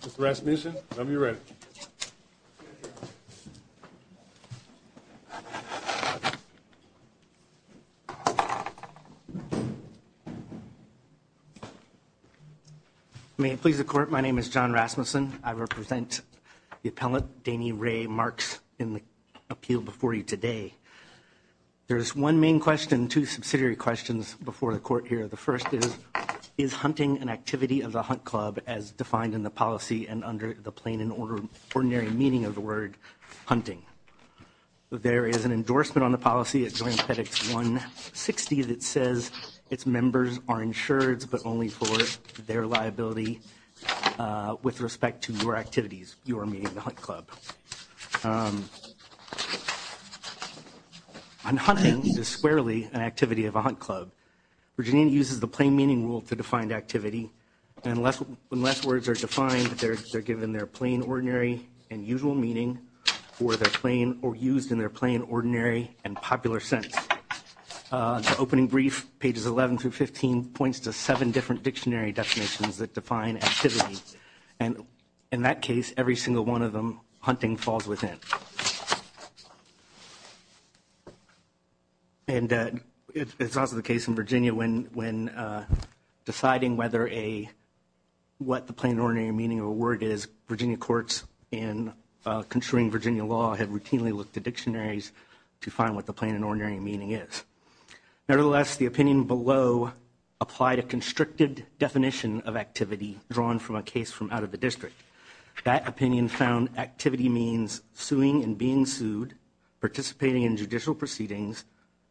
Mr. Rasmussen, when you're ready. May it please the Court, my name is John Rasmussen. I represent the appellant, Dainey Ray Marks, in the appeal before you today. There's one main question, two subsidiary questions before the Court here. The first is, is hunting an activity of the Hunt Club as defined in the policy and under the plain and ordinary meaning of the word, hunting? There is an endorsement on the policy at Joint Petit's 160 that says its members are insured but only for their liability with respect to your activities, your meeting the Hunt Club. On hunting, it is squarely an activity of a Hunt Club. Virginia uses the plain meaning rule to define activity, and unless words are defined, they're given their plain, ordinary, and usual meaning, or used in their plain, ordinary, and popular sense. The opening brief, pages 11 through 15, points to seven different dictionary definitions that define activity, and in that case, every single one of them, hunting falls within. And it's also the case in Virginia when deciding whether a, what the plain and ordinary meaning of a word is, Virginia courts in construing Virginia law have routinely looked at dictionaries to find what the plain and ordinary meaning is. Nevertheless, the opinion below applied a constricted definition of activity drawn from a case from out of the district. That opinion found activity means suing and being sued, participating in judicial proceedings,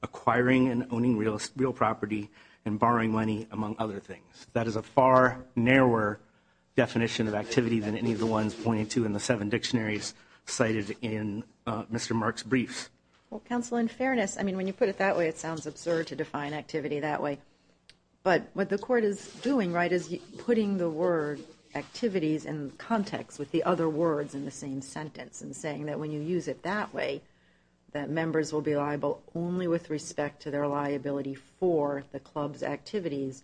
acquiring and owning real property, and borrowing money, among other things. That is a far narrower definition of activity than any of the ones pointed to in the seven dictionaries cited in Mr. Mark's briefs. Well, counsel, in fairness, I mean, when you put it that way, it sounds absurd to define activity that way. But what the court is doing, right, is putting the word activities in context with the other words in the same sentence, and saying that when you use it that way, that members will be liable only with respect to their liability for the club's activities.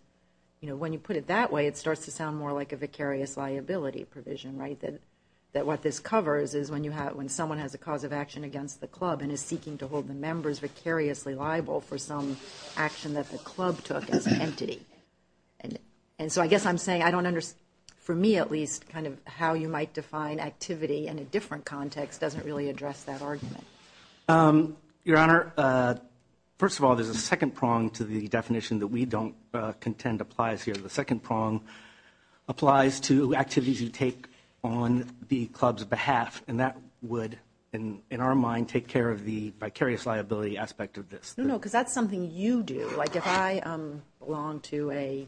You know, when you put it that way, it starts to sound more like a vicarious liability provision, right, that what this covers is when someone has a cause of action against the club and is seeking to hold the members vicariously liable for some action that the club took as an entity. And so I guess I'm saying I don't understand, for me at least, kind of how you might define activity in a different context doesn't really address that argument. Your Honor, first of all, there's a second prong to the definition that we don't contend applies here. The second prong applies to activities you take on the club's behalf, and that would, in our mind, take care of the vicarious liability aspect of this. No, no, because that's something you do. Like if I belong to a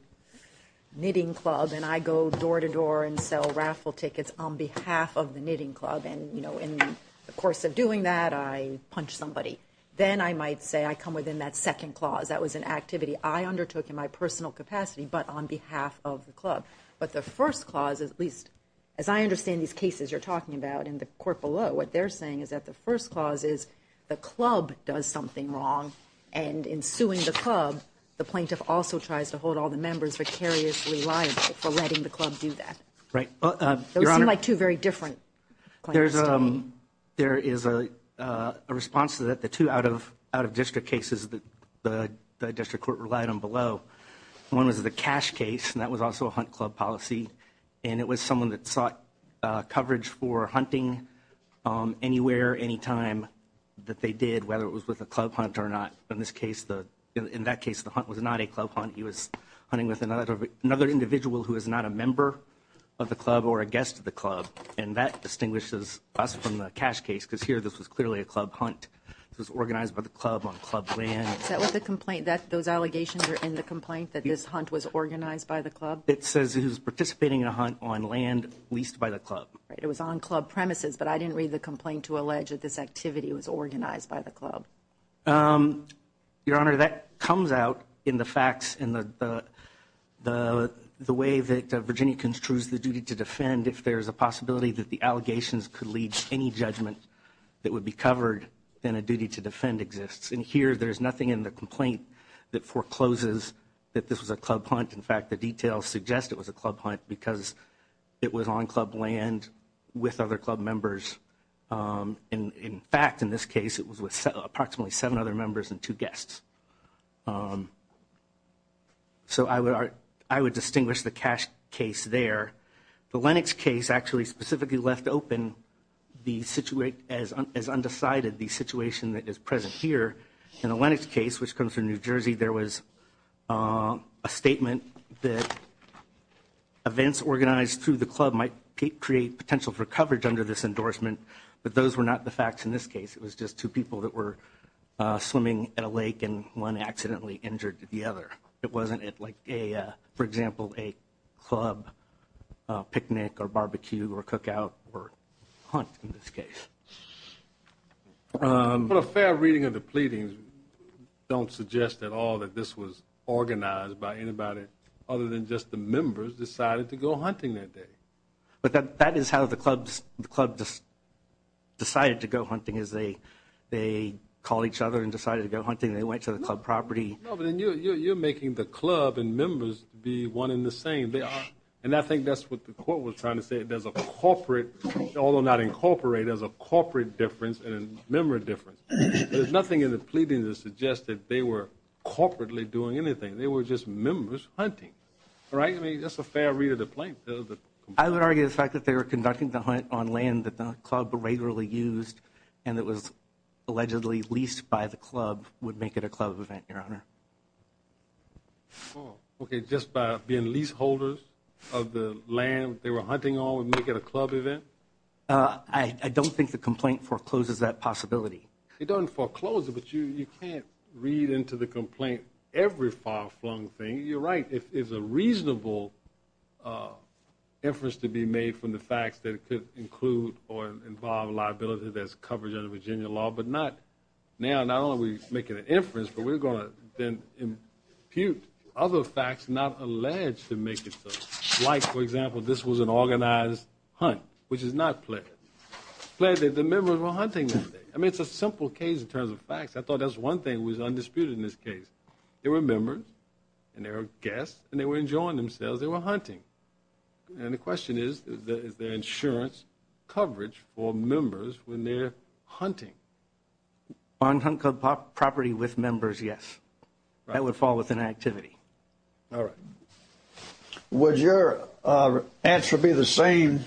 knitting club and I go door-to-door and sell raffle tickets on behalf of the knitting club, and, you know, in the course of doing that, I punch somebody, then I might say I come within that second clause. That was an activity I undertook in my personal capacity but on behalf of the club. But the first clause, at least as I understand these cases you're talking about in the court below, what they're saying is that the first clause is the club does something wrong, and in suing the club, the plaintiff also tries to hold all the members vicariously liable for letting the club do that. Right. Those seem like two very different claims to me. There is a response to that, the two out-of-district cases that the district court relied on below. One was the cash case, and that was also a hunt club policy, and it was someone that sought coverage for hunting anywhere, anytime that they did, whether it was with a club hunt or not. In this case, in that case, the hunt was not a club hunt. He was hunting with another individual who was not a member of the club or a guest of the club, and that distinguishes us from the cash case because here this was clearly a club hunt. This was organized by the club on club land. Is that what the complaint, that those allegations are in the complaint, that this hunt was organized by the club? It says he was participating in a hunt on land leased by the club. Right. It was on club premises, but I didn't read the complaint to allege that this activity was organized by the club. Your Honor, that comes out in the facts and the way that Virginia construes the duty to defend if there is a possibility that the allegations could lead to any judgment that would be covered than a duty to defend exists. And here there's nothing in the complaint that forecloses that this was a club hunt. In fact, the details suggest it was a club hunt because it was on club land with other club members. In fact, in this case, it was with approximately seven other members and two guests. So I would, I would distinguish the cash case there. The Lennox case actually specifically left open the situation as undecided, the situation that is present here. In the Lennox case, which comes from New Jersey, there was a statement that events organized through the club might create potential for coverage under this endorsement. But those were not the facts in this case. It was just two people that were swimming at a lake and one accidentally injured the other. It wasn't like, for example, a club picnic or barbecue or cookout or hunt in this case. But a fair reading of the pleadings don't suggest at all that this was organized by anybody other than just the members decided to go hunting that day. But that is how the club decided to go hunting is they called each other and decided to go hunting. They went to the club property. No, but then you're making the club and members be one in the same. And I think that's what the court was trying to say. There's a corporate, although not incorporated, there's a corporate difference and a member difference. There's nothing in the pleadings that suggests that they were corporately doing anything. They were just members hunting. All right? I mean, that's a fair read of the plaintiff. I would argue the fact that they were conducting the hunt on land that the club regularly used and that was allegedly leased by the club would make it a club event, Your Honor. Okay, just by being leaseholders of the land they were hunting on would make it a club event? I don't think the complaint forecloses that possibility. It doesn't foreclose it, but you can't read into the complaint every far-flung thing. You're right. It's a reasonable inference to be made from the facts that could include or involve a liability that's covered under Virginia law. But now not only are we making an inference, but we're going to then impute other facts not alleged to make it so. Like, for example, this was an organized hunt, which is not pledged. Pledged that the members were hunting that day. I mean, it's a simple case in terms of facts. I thought that was one thing that was undisputed in this case. They were members and they were guests and they were enjoying themselves. They were hunting. And the question is, is there insurance coverage for members when they're hunting? On property with members, yes. That would fall within activity. All right. Would your answer be the same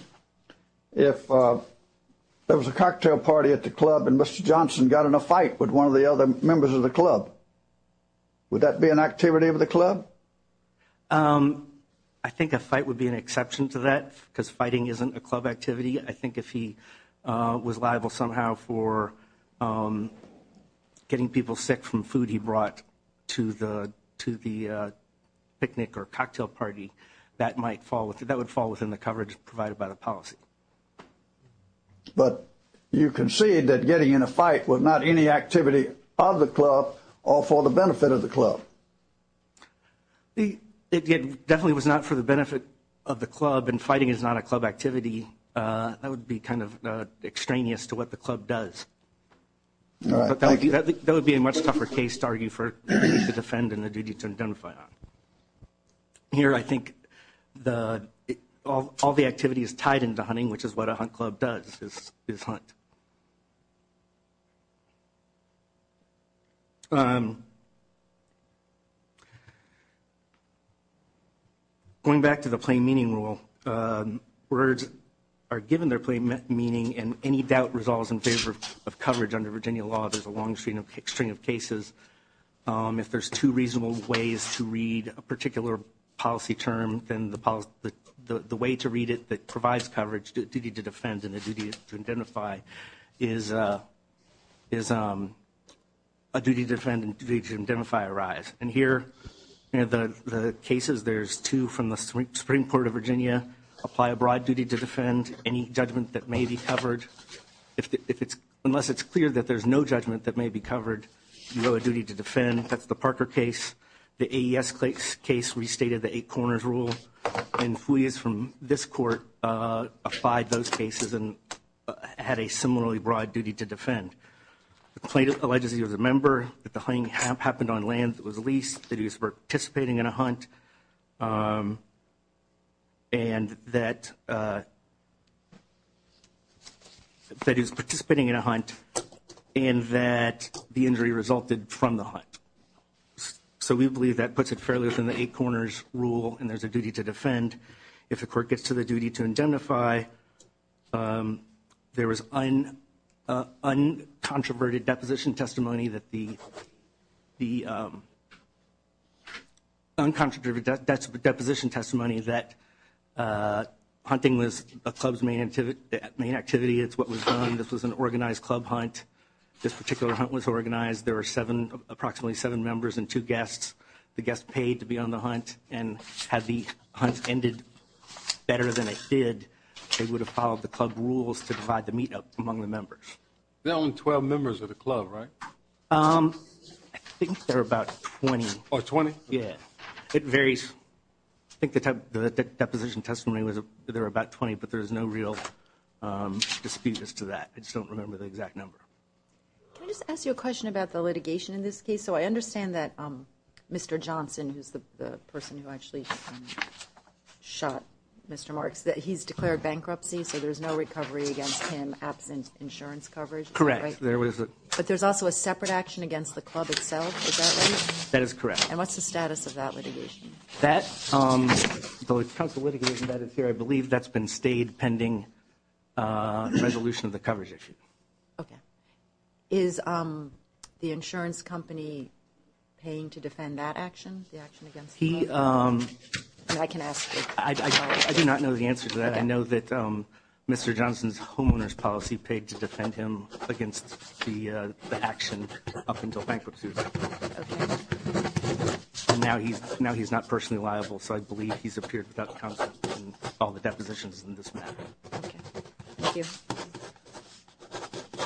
if there was a cocktail party at the club and Mr. Johnson got in a fight with one of the other members of the club? Would that be an activity of the club? I think a fight would be an exception to that because fighting isn't a club activity. I think if he was liable somehow for getting people sick from food he brought to the picnic or cocktail party, that would fall within the coverage provided by the policy. But you concede that getting in a fight was not any activity of the club or for the benefit of the club. It definitely was not for the benefit of the club, and fighting is not a club activity. That would be kind of extraneous to what the club does. But that would be a much tougher case to argue for you to defend and the duty to identify on. Here I think all the activity is tied into hunting, which is what a hunt club does, is hunt. Going back to the plain meaning rule, words are given their plain meaning, and any doubt resolves in favor of coverage under Virginia law. There's a long string of cases. If there's two reasonable ways to read a particular policy term, then the way to read it that provides coverage, the duty to defend and the duty to identify, is a duty to defend and a duty to identify arise. And here in the cases, there's two from the Supreme Court of Virginia, apply a broad duty to defend, any judgment that may be covered. Unless it's clear that there's no judgment that may be covered, you owe a duty to defend. That's the Parker case. The AES case restated the eight corners rule, and FUJIS from this court applied those cases and had a similarly broad duty to defend. The plaintiff alleges he was a member, that the hunting happened on land that was leased, that he was participating in a hunt, and that he was participating in a hunt, and that the injury resulted from the hunt. So we believe that puts it fairly within the eight corners rule, and there's a duty to defend. If the court gets to the duty to identify, there was uncontroverted deposition testimony that hunting was a club's main activity. It's what was done. This was an organized club hunt. This particular hunt was organized. There were approximately seven members and two guests. The guest paid to be on the hunt, and had the hunt ended better than it did, they would have followed the club rules to provide the meetup among the members. There were only 12 members of the club, right? I think there were about 20. Oh, 20? Yeah. It varies. I think the deposition testimony was there were about 20, but there was no real dispute as to that. I just don't remember the exact number. Can I just ask you a question about the litigation in this case? So I understand that Mr. Johnson, who's the person who actually shot Mr. Marks, he's declared bankruptcy, so there's no recovery against him absent insurance coverage. Correct. But there's also a separate action against the club itself. Is that right? That is correct. And what's the status of that litigation? That, the council litigation that is here, I believe that's been stayed pending resolution of the coverage issue. Okay. Is the insurance company paying to defend that action, the action against the club? I do not know the answer to that. I know that Mr. Johnson's homeowner's policy paid to defend him against the action up until bankruptcy. Okay. And now he's not personally liable, so I believe he's appeared without counsel in all the depositions in this matter. Okay. Thank you.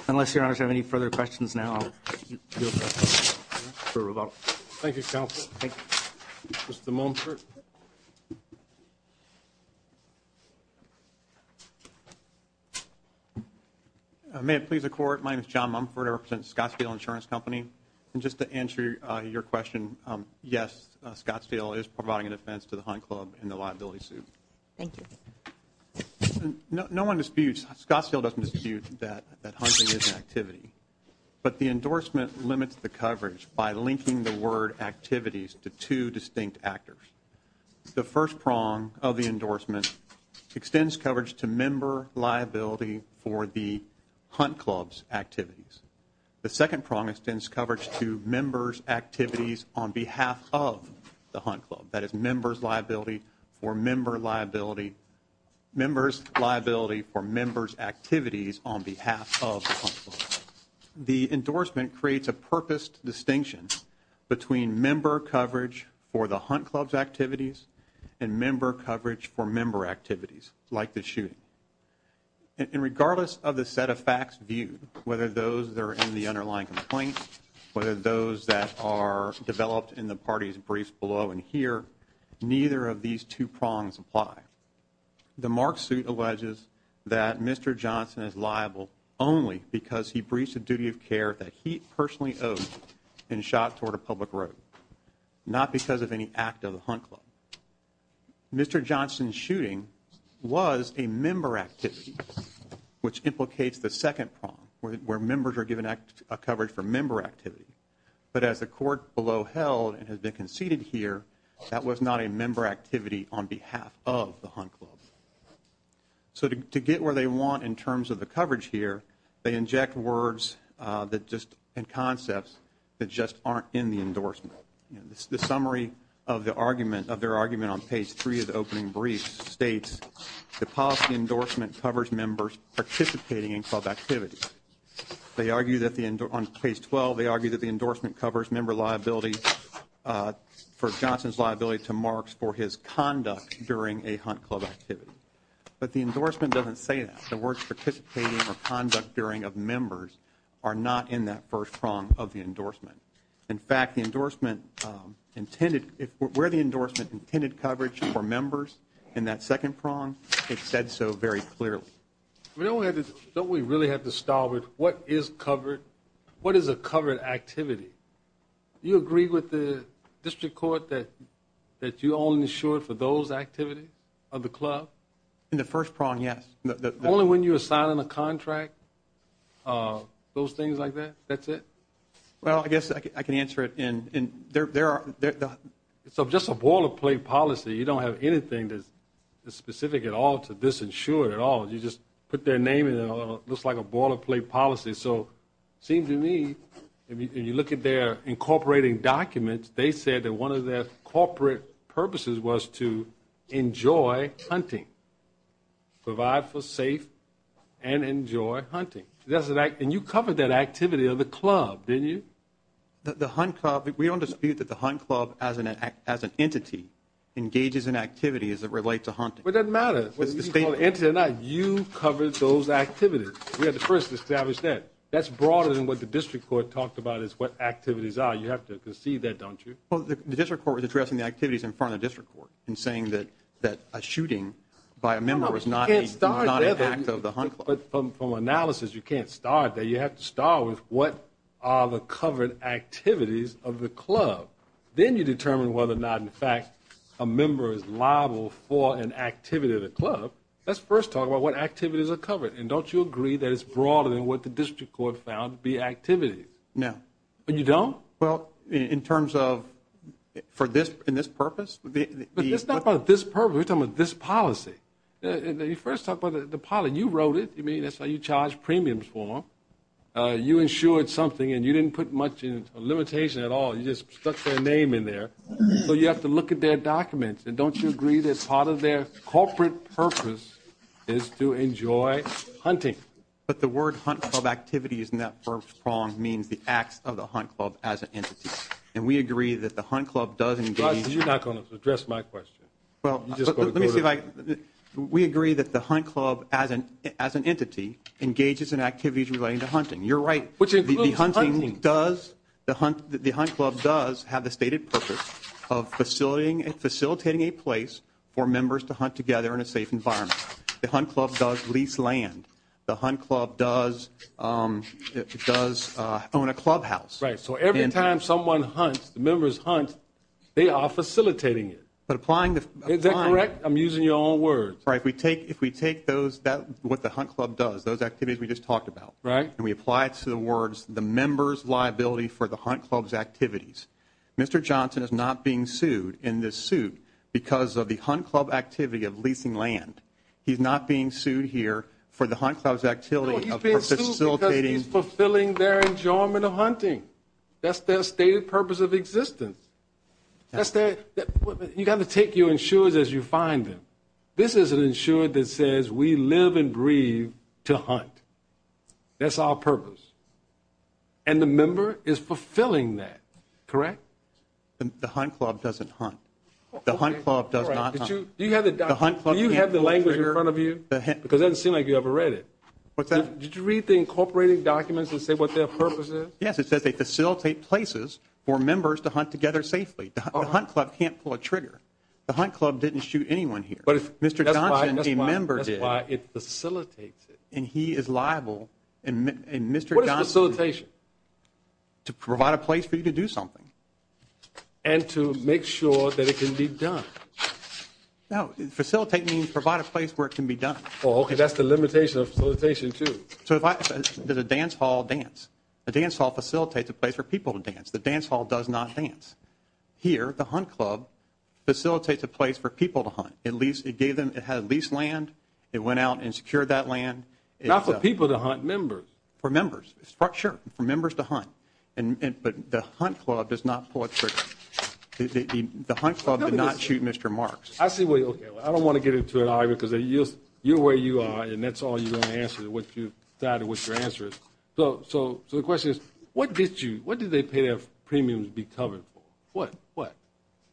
Unless your honors have any further questions now. Thank you, counsel. Thank you. Mr. Mumford. May it please the Court, my name is John Mumford. I represent Scottsdale Insurance Company. And just to answer your question, yes, Scottsdale is providing a defense to the Hunt Club in the liability suit. Thank you. No one disputes, Scottsdale doesn't dispute that hunting is an activity. But the endorsement limits the coverage by linking the word activities to two distinct actors. The first prong of the endorsement extends coverage to member liability for the Hunt Club's activities. The second prong extends coverage to members' activities on behalf of the Hunt Club. That is members' liability for member liability, members' liability for members' activities on behalf of the Hunt Club. The endorsement creates a purposed distinction between member coverage for the Hunt Club's activities and member coverage for member activities, like the shooting. And regardless of the set of facts viewed, whether those that are in the underlying complaint, whether those that are developed in the party's briefs below and here, neither of these two prongs apply. The mark suit alleges that Mr. Johnson is liable only because he breached a duty of care that he personally owed and shot toward a public road, not because of any act of the Hunt Club. Mr. Johnson's shooting was a member activity, which implicates the second prong, where members are given coverage for member activity. But as the court below held and has been conceded here, that was not a member activity on behalf of the Hunt Club. So to get where they want in terms of the coverage here, they inject words and concepts that just aren't in the endorsement. The summary of their argument on page three of the opening brief states, the policy endorsement covers members participating in club activities. They argue that on page 12, they argue that the endorsement covers member liability for Johnson's liability to Marks for his conduct during a Hunt Club activity. But the endorsement doesn't say that. The words participating or conduct during of members are not in that first prong of the endorsement. In fact, the endorsement intended, where the endorsement intended coverage for members in that second prong, it said so very clearly. Don't we really have to start with what is covered? What is a covered activity? Do you agree with the district court that you only insure for those activities of the club? In the first prong, yes. Only when you're signing a contract, those things like that, that's it? Well, I guess I can answer it. So just a ball of play policy, you don't have anything that's specific at all to disinsure at all. You just put their name and it looks like a ball of play policy. So it seems to me, when you look at their incorporating documents, they said that one of their corporate purposes was to enjoy hunting, provide for safe and enjoy hunting. And you covered that activity of the club, didn't you? The hunt club, we don't dispute that the hunt club as an entity engages in activity as it relates to hunting. It doesn't matter whether you call it an entity or not. You covered those activities. We had to first establish that. That's broader than what the district court talked about is what activities are. You have to conceive that, don't you? Well, the district court was addressing the activities in front of the district court and saying that a shooting by a member was not an act of the hunt club. But from analysis, you can't start there. You have to start with what are the covered activities of the club. Then you determine whether or not, in fact, a member is liable for an activity of the club. Let's first talk about what activities are covered. And don't you agree that it's broader than what the district court found to be activities? No. But you don't? Well, in terms of for this purpose. It's not about this purpose. We're talking about this policy. You first talk about the pilot. You wrote it. That's how you charge premiums for them. You insured something and you didn't put much limitation at all. You just stuck their name in there. So you have to look at their documents. And don't you agree that part of their corporate purpose is to enjoy hunting? But the word hunt club activities in that first prong means the acts of the hunt club as an entity. And we agree that the hunt club does engage. You're not going to address my question. Well, let me see if I can. We agree that the hunt club as an entity engages in activities relating to hunting. You're right. Which includes hunting. The hunt club does have the stated purpose of facilitating a place for members to hunt together in a safe environment. The hunt club does lease land. The hunt club does own a clubhouse. Right. So every time someone hunts, the members hunt, they are facilitating it. Is that correct? I'm using your own words. If we take what the hunt club does, those activities we just talked about. Right. And we apply it to the words, the members' liability for the hunt club's activities. Mr. Johnson is not being sued in this suit because of the hunt club activity of leasing land. He's not being sued here for the hunt club's activity of facilitating. No, he's being sued because he's fulfilling their enjoyment of hunting. That's their stated purpose of existence. You've got to take your insurers as you find them. This is an insurer that says we live and breathe to hunt. That's our purpose. And the member is fulfilling that, correct? The hunt club doesn't hunt. The hunt club does not hunt. Do you have the language in front of you? Because it doesn't seem like you ever read it. Did you read the incorporated documents that say what their purpose is? Yes, it says they facilitate places for members to hunt together safely. The hunt club can't pull a trigger. The hunt club didn't shoot anyone here. That's why it facilitates it. And he is liable. What is facilitation? To provide a place for you to do something. And to make sure that it can be done. No, facilitate means provide a place where it can be done. Oh, okay, that's the limitation of facilitation, too. So the dance hall dance. The dance hall facilitates a place for people to dance. The dance hall does not dance. Here, the hunt club facilitates a place for people to hunt. It gave them at least land. It went out and secured that land. Not for people to hunt, members. For members, structure, for members to hunt. But the hunt club does not pull a trigger. The hunt club did not shoot Mr. Marks. I don't want to get into it, either, because you're where you are, and that's all you're going to answer, what you've decided what your answer is. So the question is, what did they pay their premiums to be covered for? What?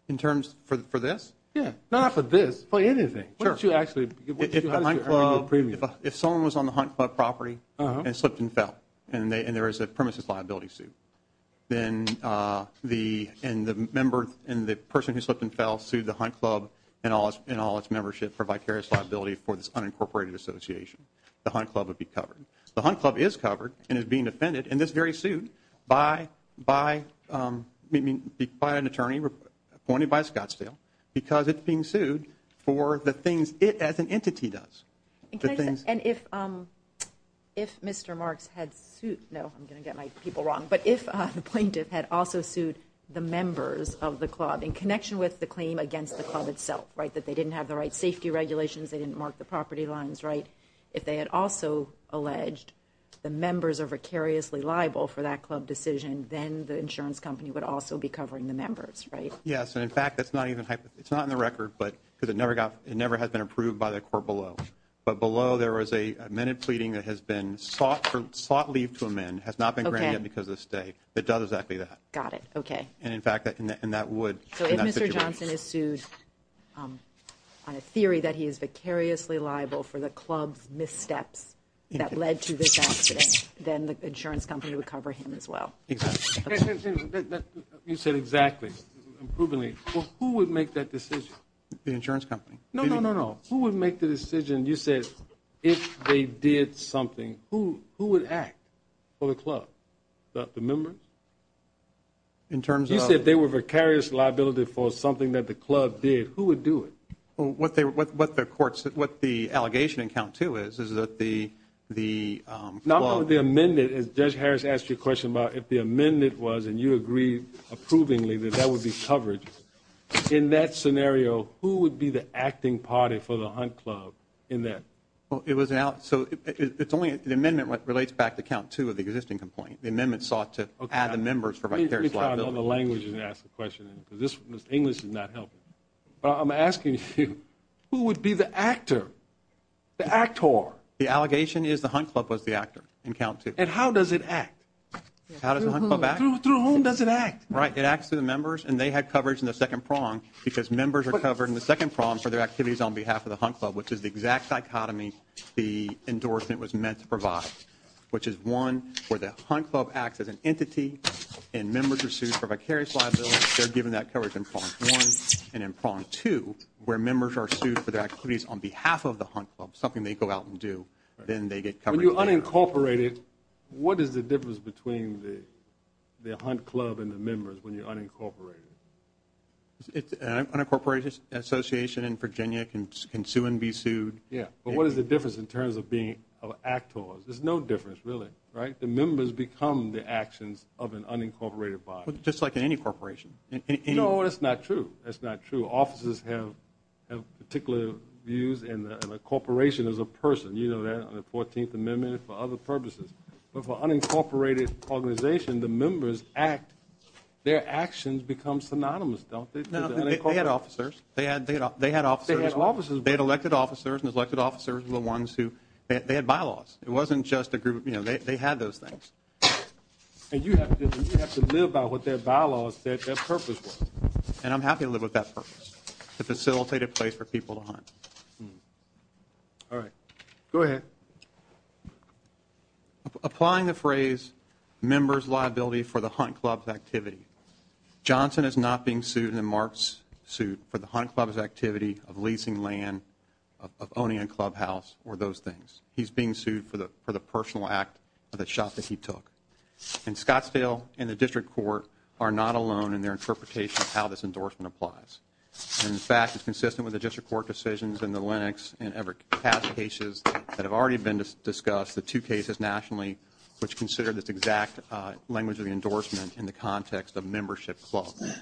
In terms for this? Yeah. Not for this. For anything. What did you actually earn your premiums? If someone was on the hunt club property and slipped and fell, and there is a premises liability suit, then the member and the person who slipped and fell sued the hunt club and all its membership for vicarious liability for this unincorporated association. The hunt club would be covered. The hunt club is covered and is being defended in this very suit by an attorney appointed by Scottsdale because it's being sued for the things it as an entity does. And if Mr. Marks had sued, no, I'm going to get my people wrong. But if the plaintiff had also sued the members of the club in connection with the claim against the club itself, right, that they didn't have the right safety regulations, they didn't mark the property lines, right, if they had also alleged the members are vicariously liable for that club decision, then the insurance company would also be covering the members, right? Yes. And, in fact, that's not even in the record because it never has been approved by the court below. But below there was a minute pleading that has been sought leave to amend, has not been granted because of the state, that does exactly that. Got it. Okay. And, in fact, that would in that situation. So if Mr. Johnson is sued on a theory that he is vicariously liable for the club's missteps that led to this accident, then the insurance company would cover him as well. Exactly. You said exactly, improvingly. Well, who would make that decision? The insurance company. No, no, no, no. Who would make the decision, you said, if they did something, who would act for the club? The members? In terms of? You said they were vicariously liable for something that the club did. Who would do it? Well, what the court said, what the allegation in count two is, is that the club. Now, the amendment, as Judge Harris asked you a question about if the amendment was, and you agreed approvingly that that would be covered, in that scenario who would be the acting party for the Hunt Club in that? Well, it was an out. So it's only an amendment that relates back to count two of the existing complaint. The amendment sought to add the members for vicarious liability. Let me try it in other languages and ask a question, because English is not helping. But I'm asking you, who would be the actor, the actor? The allegation is the Hunt Club was the actor in count two. And how does it act? How does the Hunt Club act? Through whom does it act? Right, it acts through the members, and they had coverage in the second prong, because members are covered in the second prong for their activities on behalf of the Hunt Club, which is the exact dichotomy the endorsement was meant to provide, which is, one, where the Hunt Club acts as an entity and members are sued for vicarious liability. They're given that coverage in prong one. And in prong two, where members are sued for their activities on behalf of the Hunt Club, something they go out and do, then they get coverage. When you unincorporate it, what is the difference between the Hunt Club and the members when you unincorporate it? An unincorporated association in Virginia can sue and be sued. Yeah, but what is the difference in terms of being of actors? There's no difference, really, right? The members become the actions of an unincorporated body. Just like in any corporation. No, that's not true. That's not true. Officers have particular views in a corporation as a person. You know that in the 14th Amendment and for other purposes. But for an unincorporated organization, the members act. Their actions become synonymous, don't they? They had officers. They had officers. They had officers. And the elected officers were the ones who had bylaws. It wasn't just a group. They had those things. And you have to live by what their bylaws said their purpose was. And I'm happy to live with that purpose, the facilitated place for people to hunt. All right. Go ahead. Applying the phrase members' liability for the Hunt Club's activity, Johnson is not being sued in the Marks suit for the Hunt Club's activity of leasing land, of owning a clubhouse, or those things. He's being sued for the personal act of the shot that he took. And Scottsdale and the district court are not alone in their interpretation of how this endorsement applies. And, in fact, it's consistent with the district court decisions in the Lenox and Everett Cass cases that have already been discussed, the two cases nationally, which consider this exact language of the endorsement in the context of membership clubs.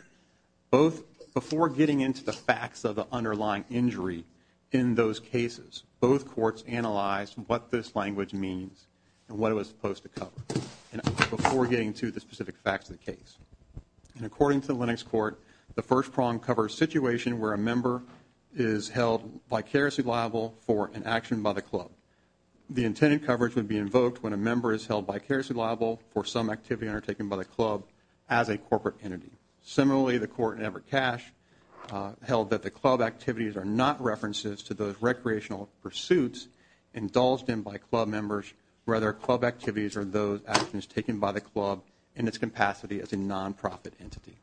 Before getting into the facts of the underlying injury in those cases, both courts analyzed what this language means and what it was supposed to cover, before getting to the specific facts of the case. And according to the Lenox court, the first prong covers a situation where a member is held vicariously liable for an action by the club. The intended coverage would be invoked when a member is held vicariously liable for some activity undertaken by the club as a corporate entity. Similarly, the court in Everett Cass held that the club activities are not references to those recreational pursuits indulged in by club members, rather club activities are those actions taken by the club in its capacity as a nonprofit entity.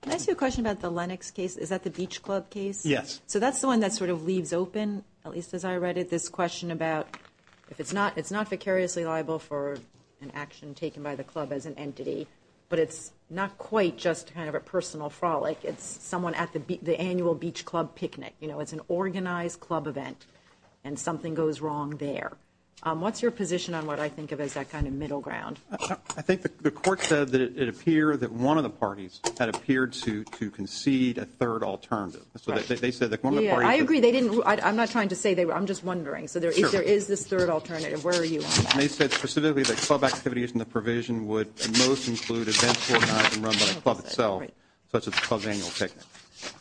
Can I ask you a question about the Lenox case? Is that the beach club case? Yes. So that's the one that sort of leaves open, at least as I read it, this question about if it's not vicariously liable for an action taken by the club as an entity, but it's not quite just kind of a personal frolic. It's someone at the annual beach club picnic. You know, it's an organized club event and something goes wrong there. What's your position on what I think of as that kind of middle ground? I think the court said that it appeared that one of the parties had appeared to concede a third alternative. So they said that one of the parties... I agree. I'm not trying to say they were. I'm just wondering. So if there is this third alternative, where are you on that? They said specifically that club activities in the provision would at most include events organized and run by the club itself, such as the club's annual picnic.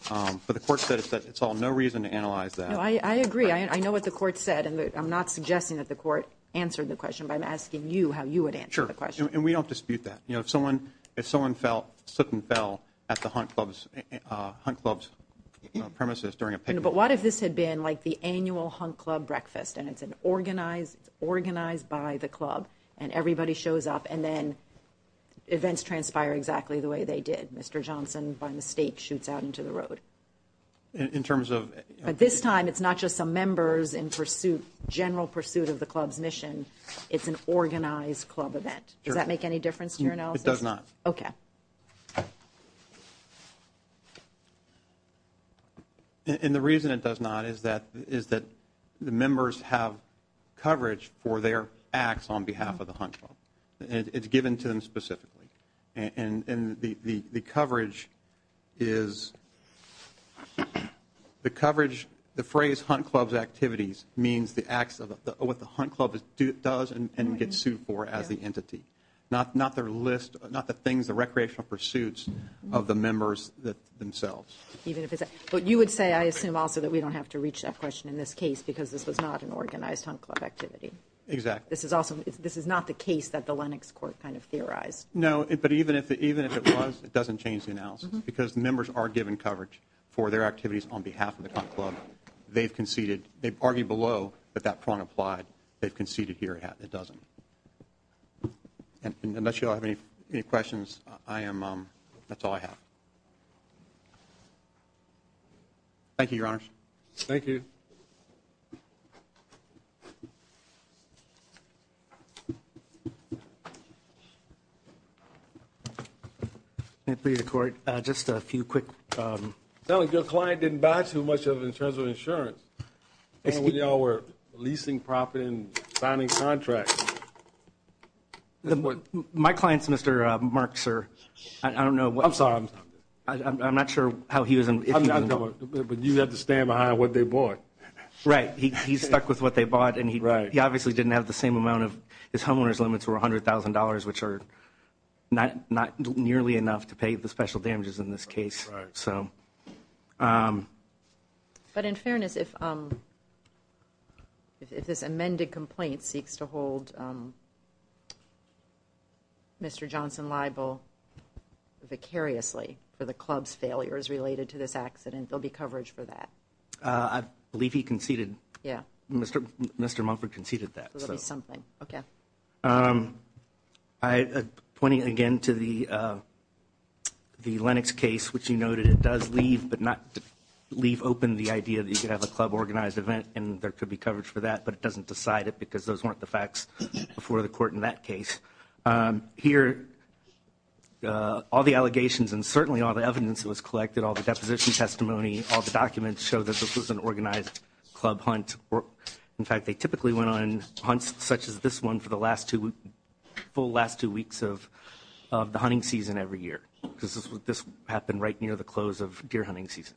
But the court said it's all no reason to analyze that. I agree. I know what the court said, and I'm not suggesting that the court answered the question, but I'm asking you how you would answer the question. Sure. And we don't dispute that. If someone slipped and fell at the Hunt Club's premises during a picnic... But what if this had been like the annual Hunt Club breakfast and it's organized by the club and everybody shows up and then events transpire exactly the way they did. Mr. Johnson, by mistake, shoots out into the road. In terms of... But this time it's not just some members in pursuit, general pursuit of the club's mission. It's an organized club event. Does that make any difference to your analysis? It does not. Okay. And the reason it does not is that the members have coverage for their acts on behalf of the Hunt Club. It's given to them specifically. And the coverage is the coverage, the phrase Hunt Club's activities, means the acts of what the Hunt Club does and gets sued for as the entity. Not the list, not the things, the recreational pursuits of the members themselves. But you would say, I assume also, that we don't have to reach that question in this case because this was not an organized Hunt Club activity. Exactly. This is not the case that the Lennox Court kind of theorized. No, but even if it was, it doesn't change the analysis because members are given coverage for their activities on behalf of the Hunt Club. They've conceded. They've argued below that that prong applied. They've conceded here it doesn't. Unless you all have any questions, that's all I have. Thank you, Your Honors. Thank you. May it please the Court, just a few quick. It sounds like your client didn't buy too much of it in terms of insurance. And when you all were leasing property and signing contracts. My client's Mr. Markser. I don't know. I'm sorry. I'm not sure how he was. But you have to stand behind what they bought. Right. He's stuck with what they bought and he obviously didn't have the same amount of, his homeowner's limits were $100,000, which are not nearly enough to pay the special damages in this case. Right. But in fairness, if this amended complaint seeks to hold Mr. Johnson liable vicariously for the club's failures related to this accident, there'll be coverage for that. I believe he conceded. Mr. Mumford conceded that. So there'll be something. Okay. Pointing again to the Lennox case, which you noted it does leave, but not leave open the idea that you could have a club organized event and there could be coverage for that, but it doesn't decide it because those weren't the facts before the court in that case. Here, all the allegations and certainly all the evidence that was collected, all the deposition testimony, all the documents show that this was an organized club hunt. In fact, they typically went on hunts such as this one for the last two full last two weeks of, of the hunting season every year, because this happened right near the close of deer hunting season.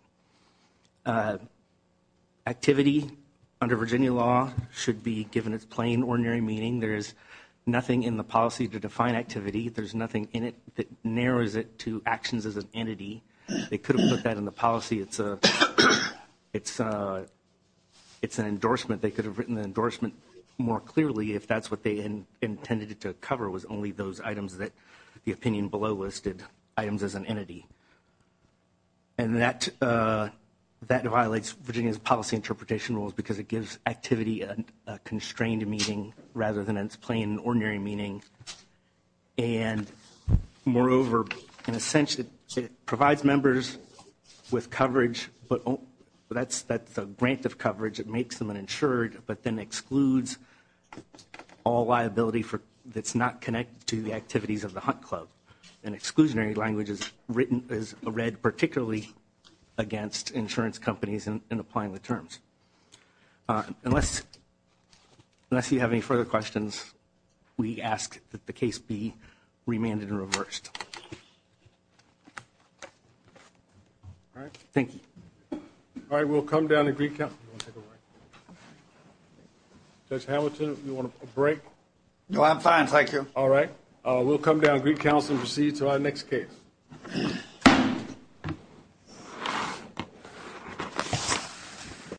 Activity under Virginia law should be given its plain ordinary meaning. There is nothing in the policy to define activity. There's nothing in it that narrows it to actions as an entity. They could have put that in the policy. It's a, it's a, it's an endorsement. They could have written the endorsement more clearly if that's what they intended to cover was only those items that the opinion below listed items as an entity. And that, uh, that violates Virginia's policy interpretation rules because it gives activity and a constrained meeting rather than it's plain ordinary meaning. And moreover, in a sense that it provides members with coverage, but that's, that's a grant of coverage. It makes them an insured, but then excludes all liability for that's not connected to the activities of the hunt club and exclusionary languages written is read particularly against insurance companies and applying the terms. Uh, unless, unless you have any further questions, we ask that the case be remanded and reversed. All right. Thank you. All right. We'll come down to Greek count. That's Hamilton. You want a break? No, I'm fine. Thank you. All right. Uh, we'll come down Greek council and proceed to our next case.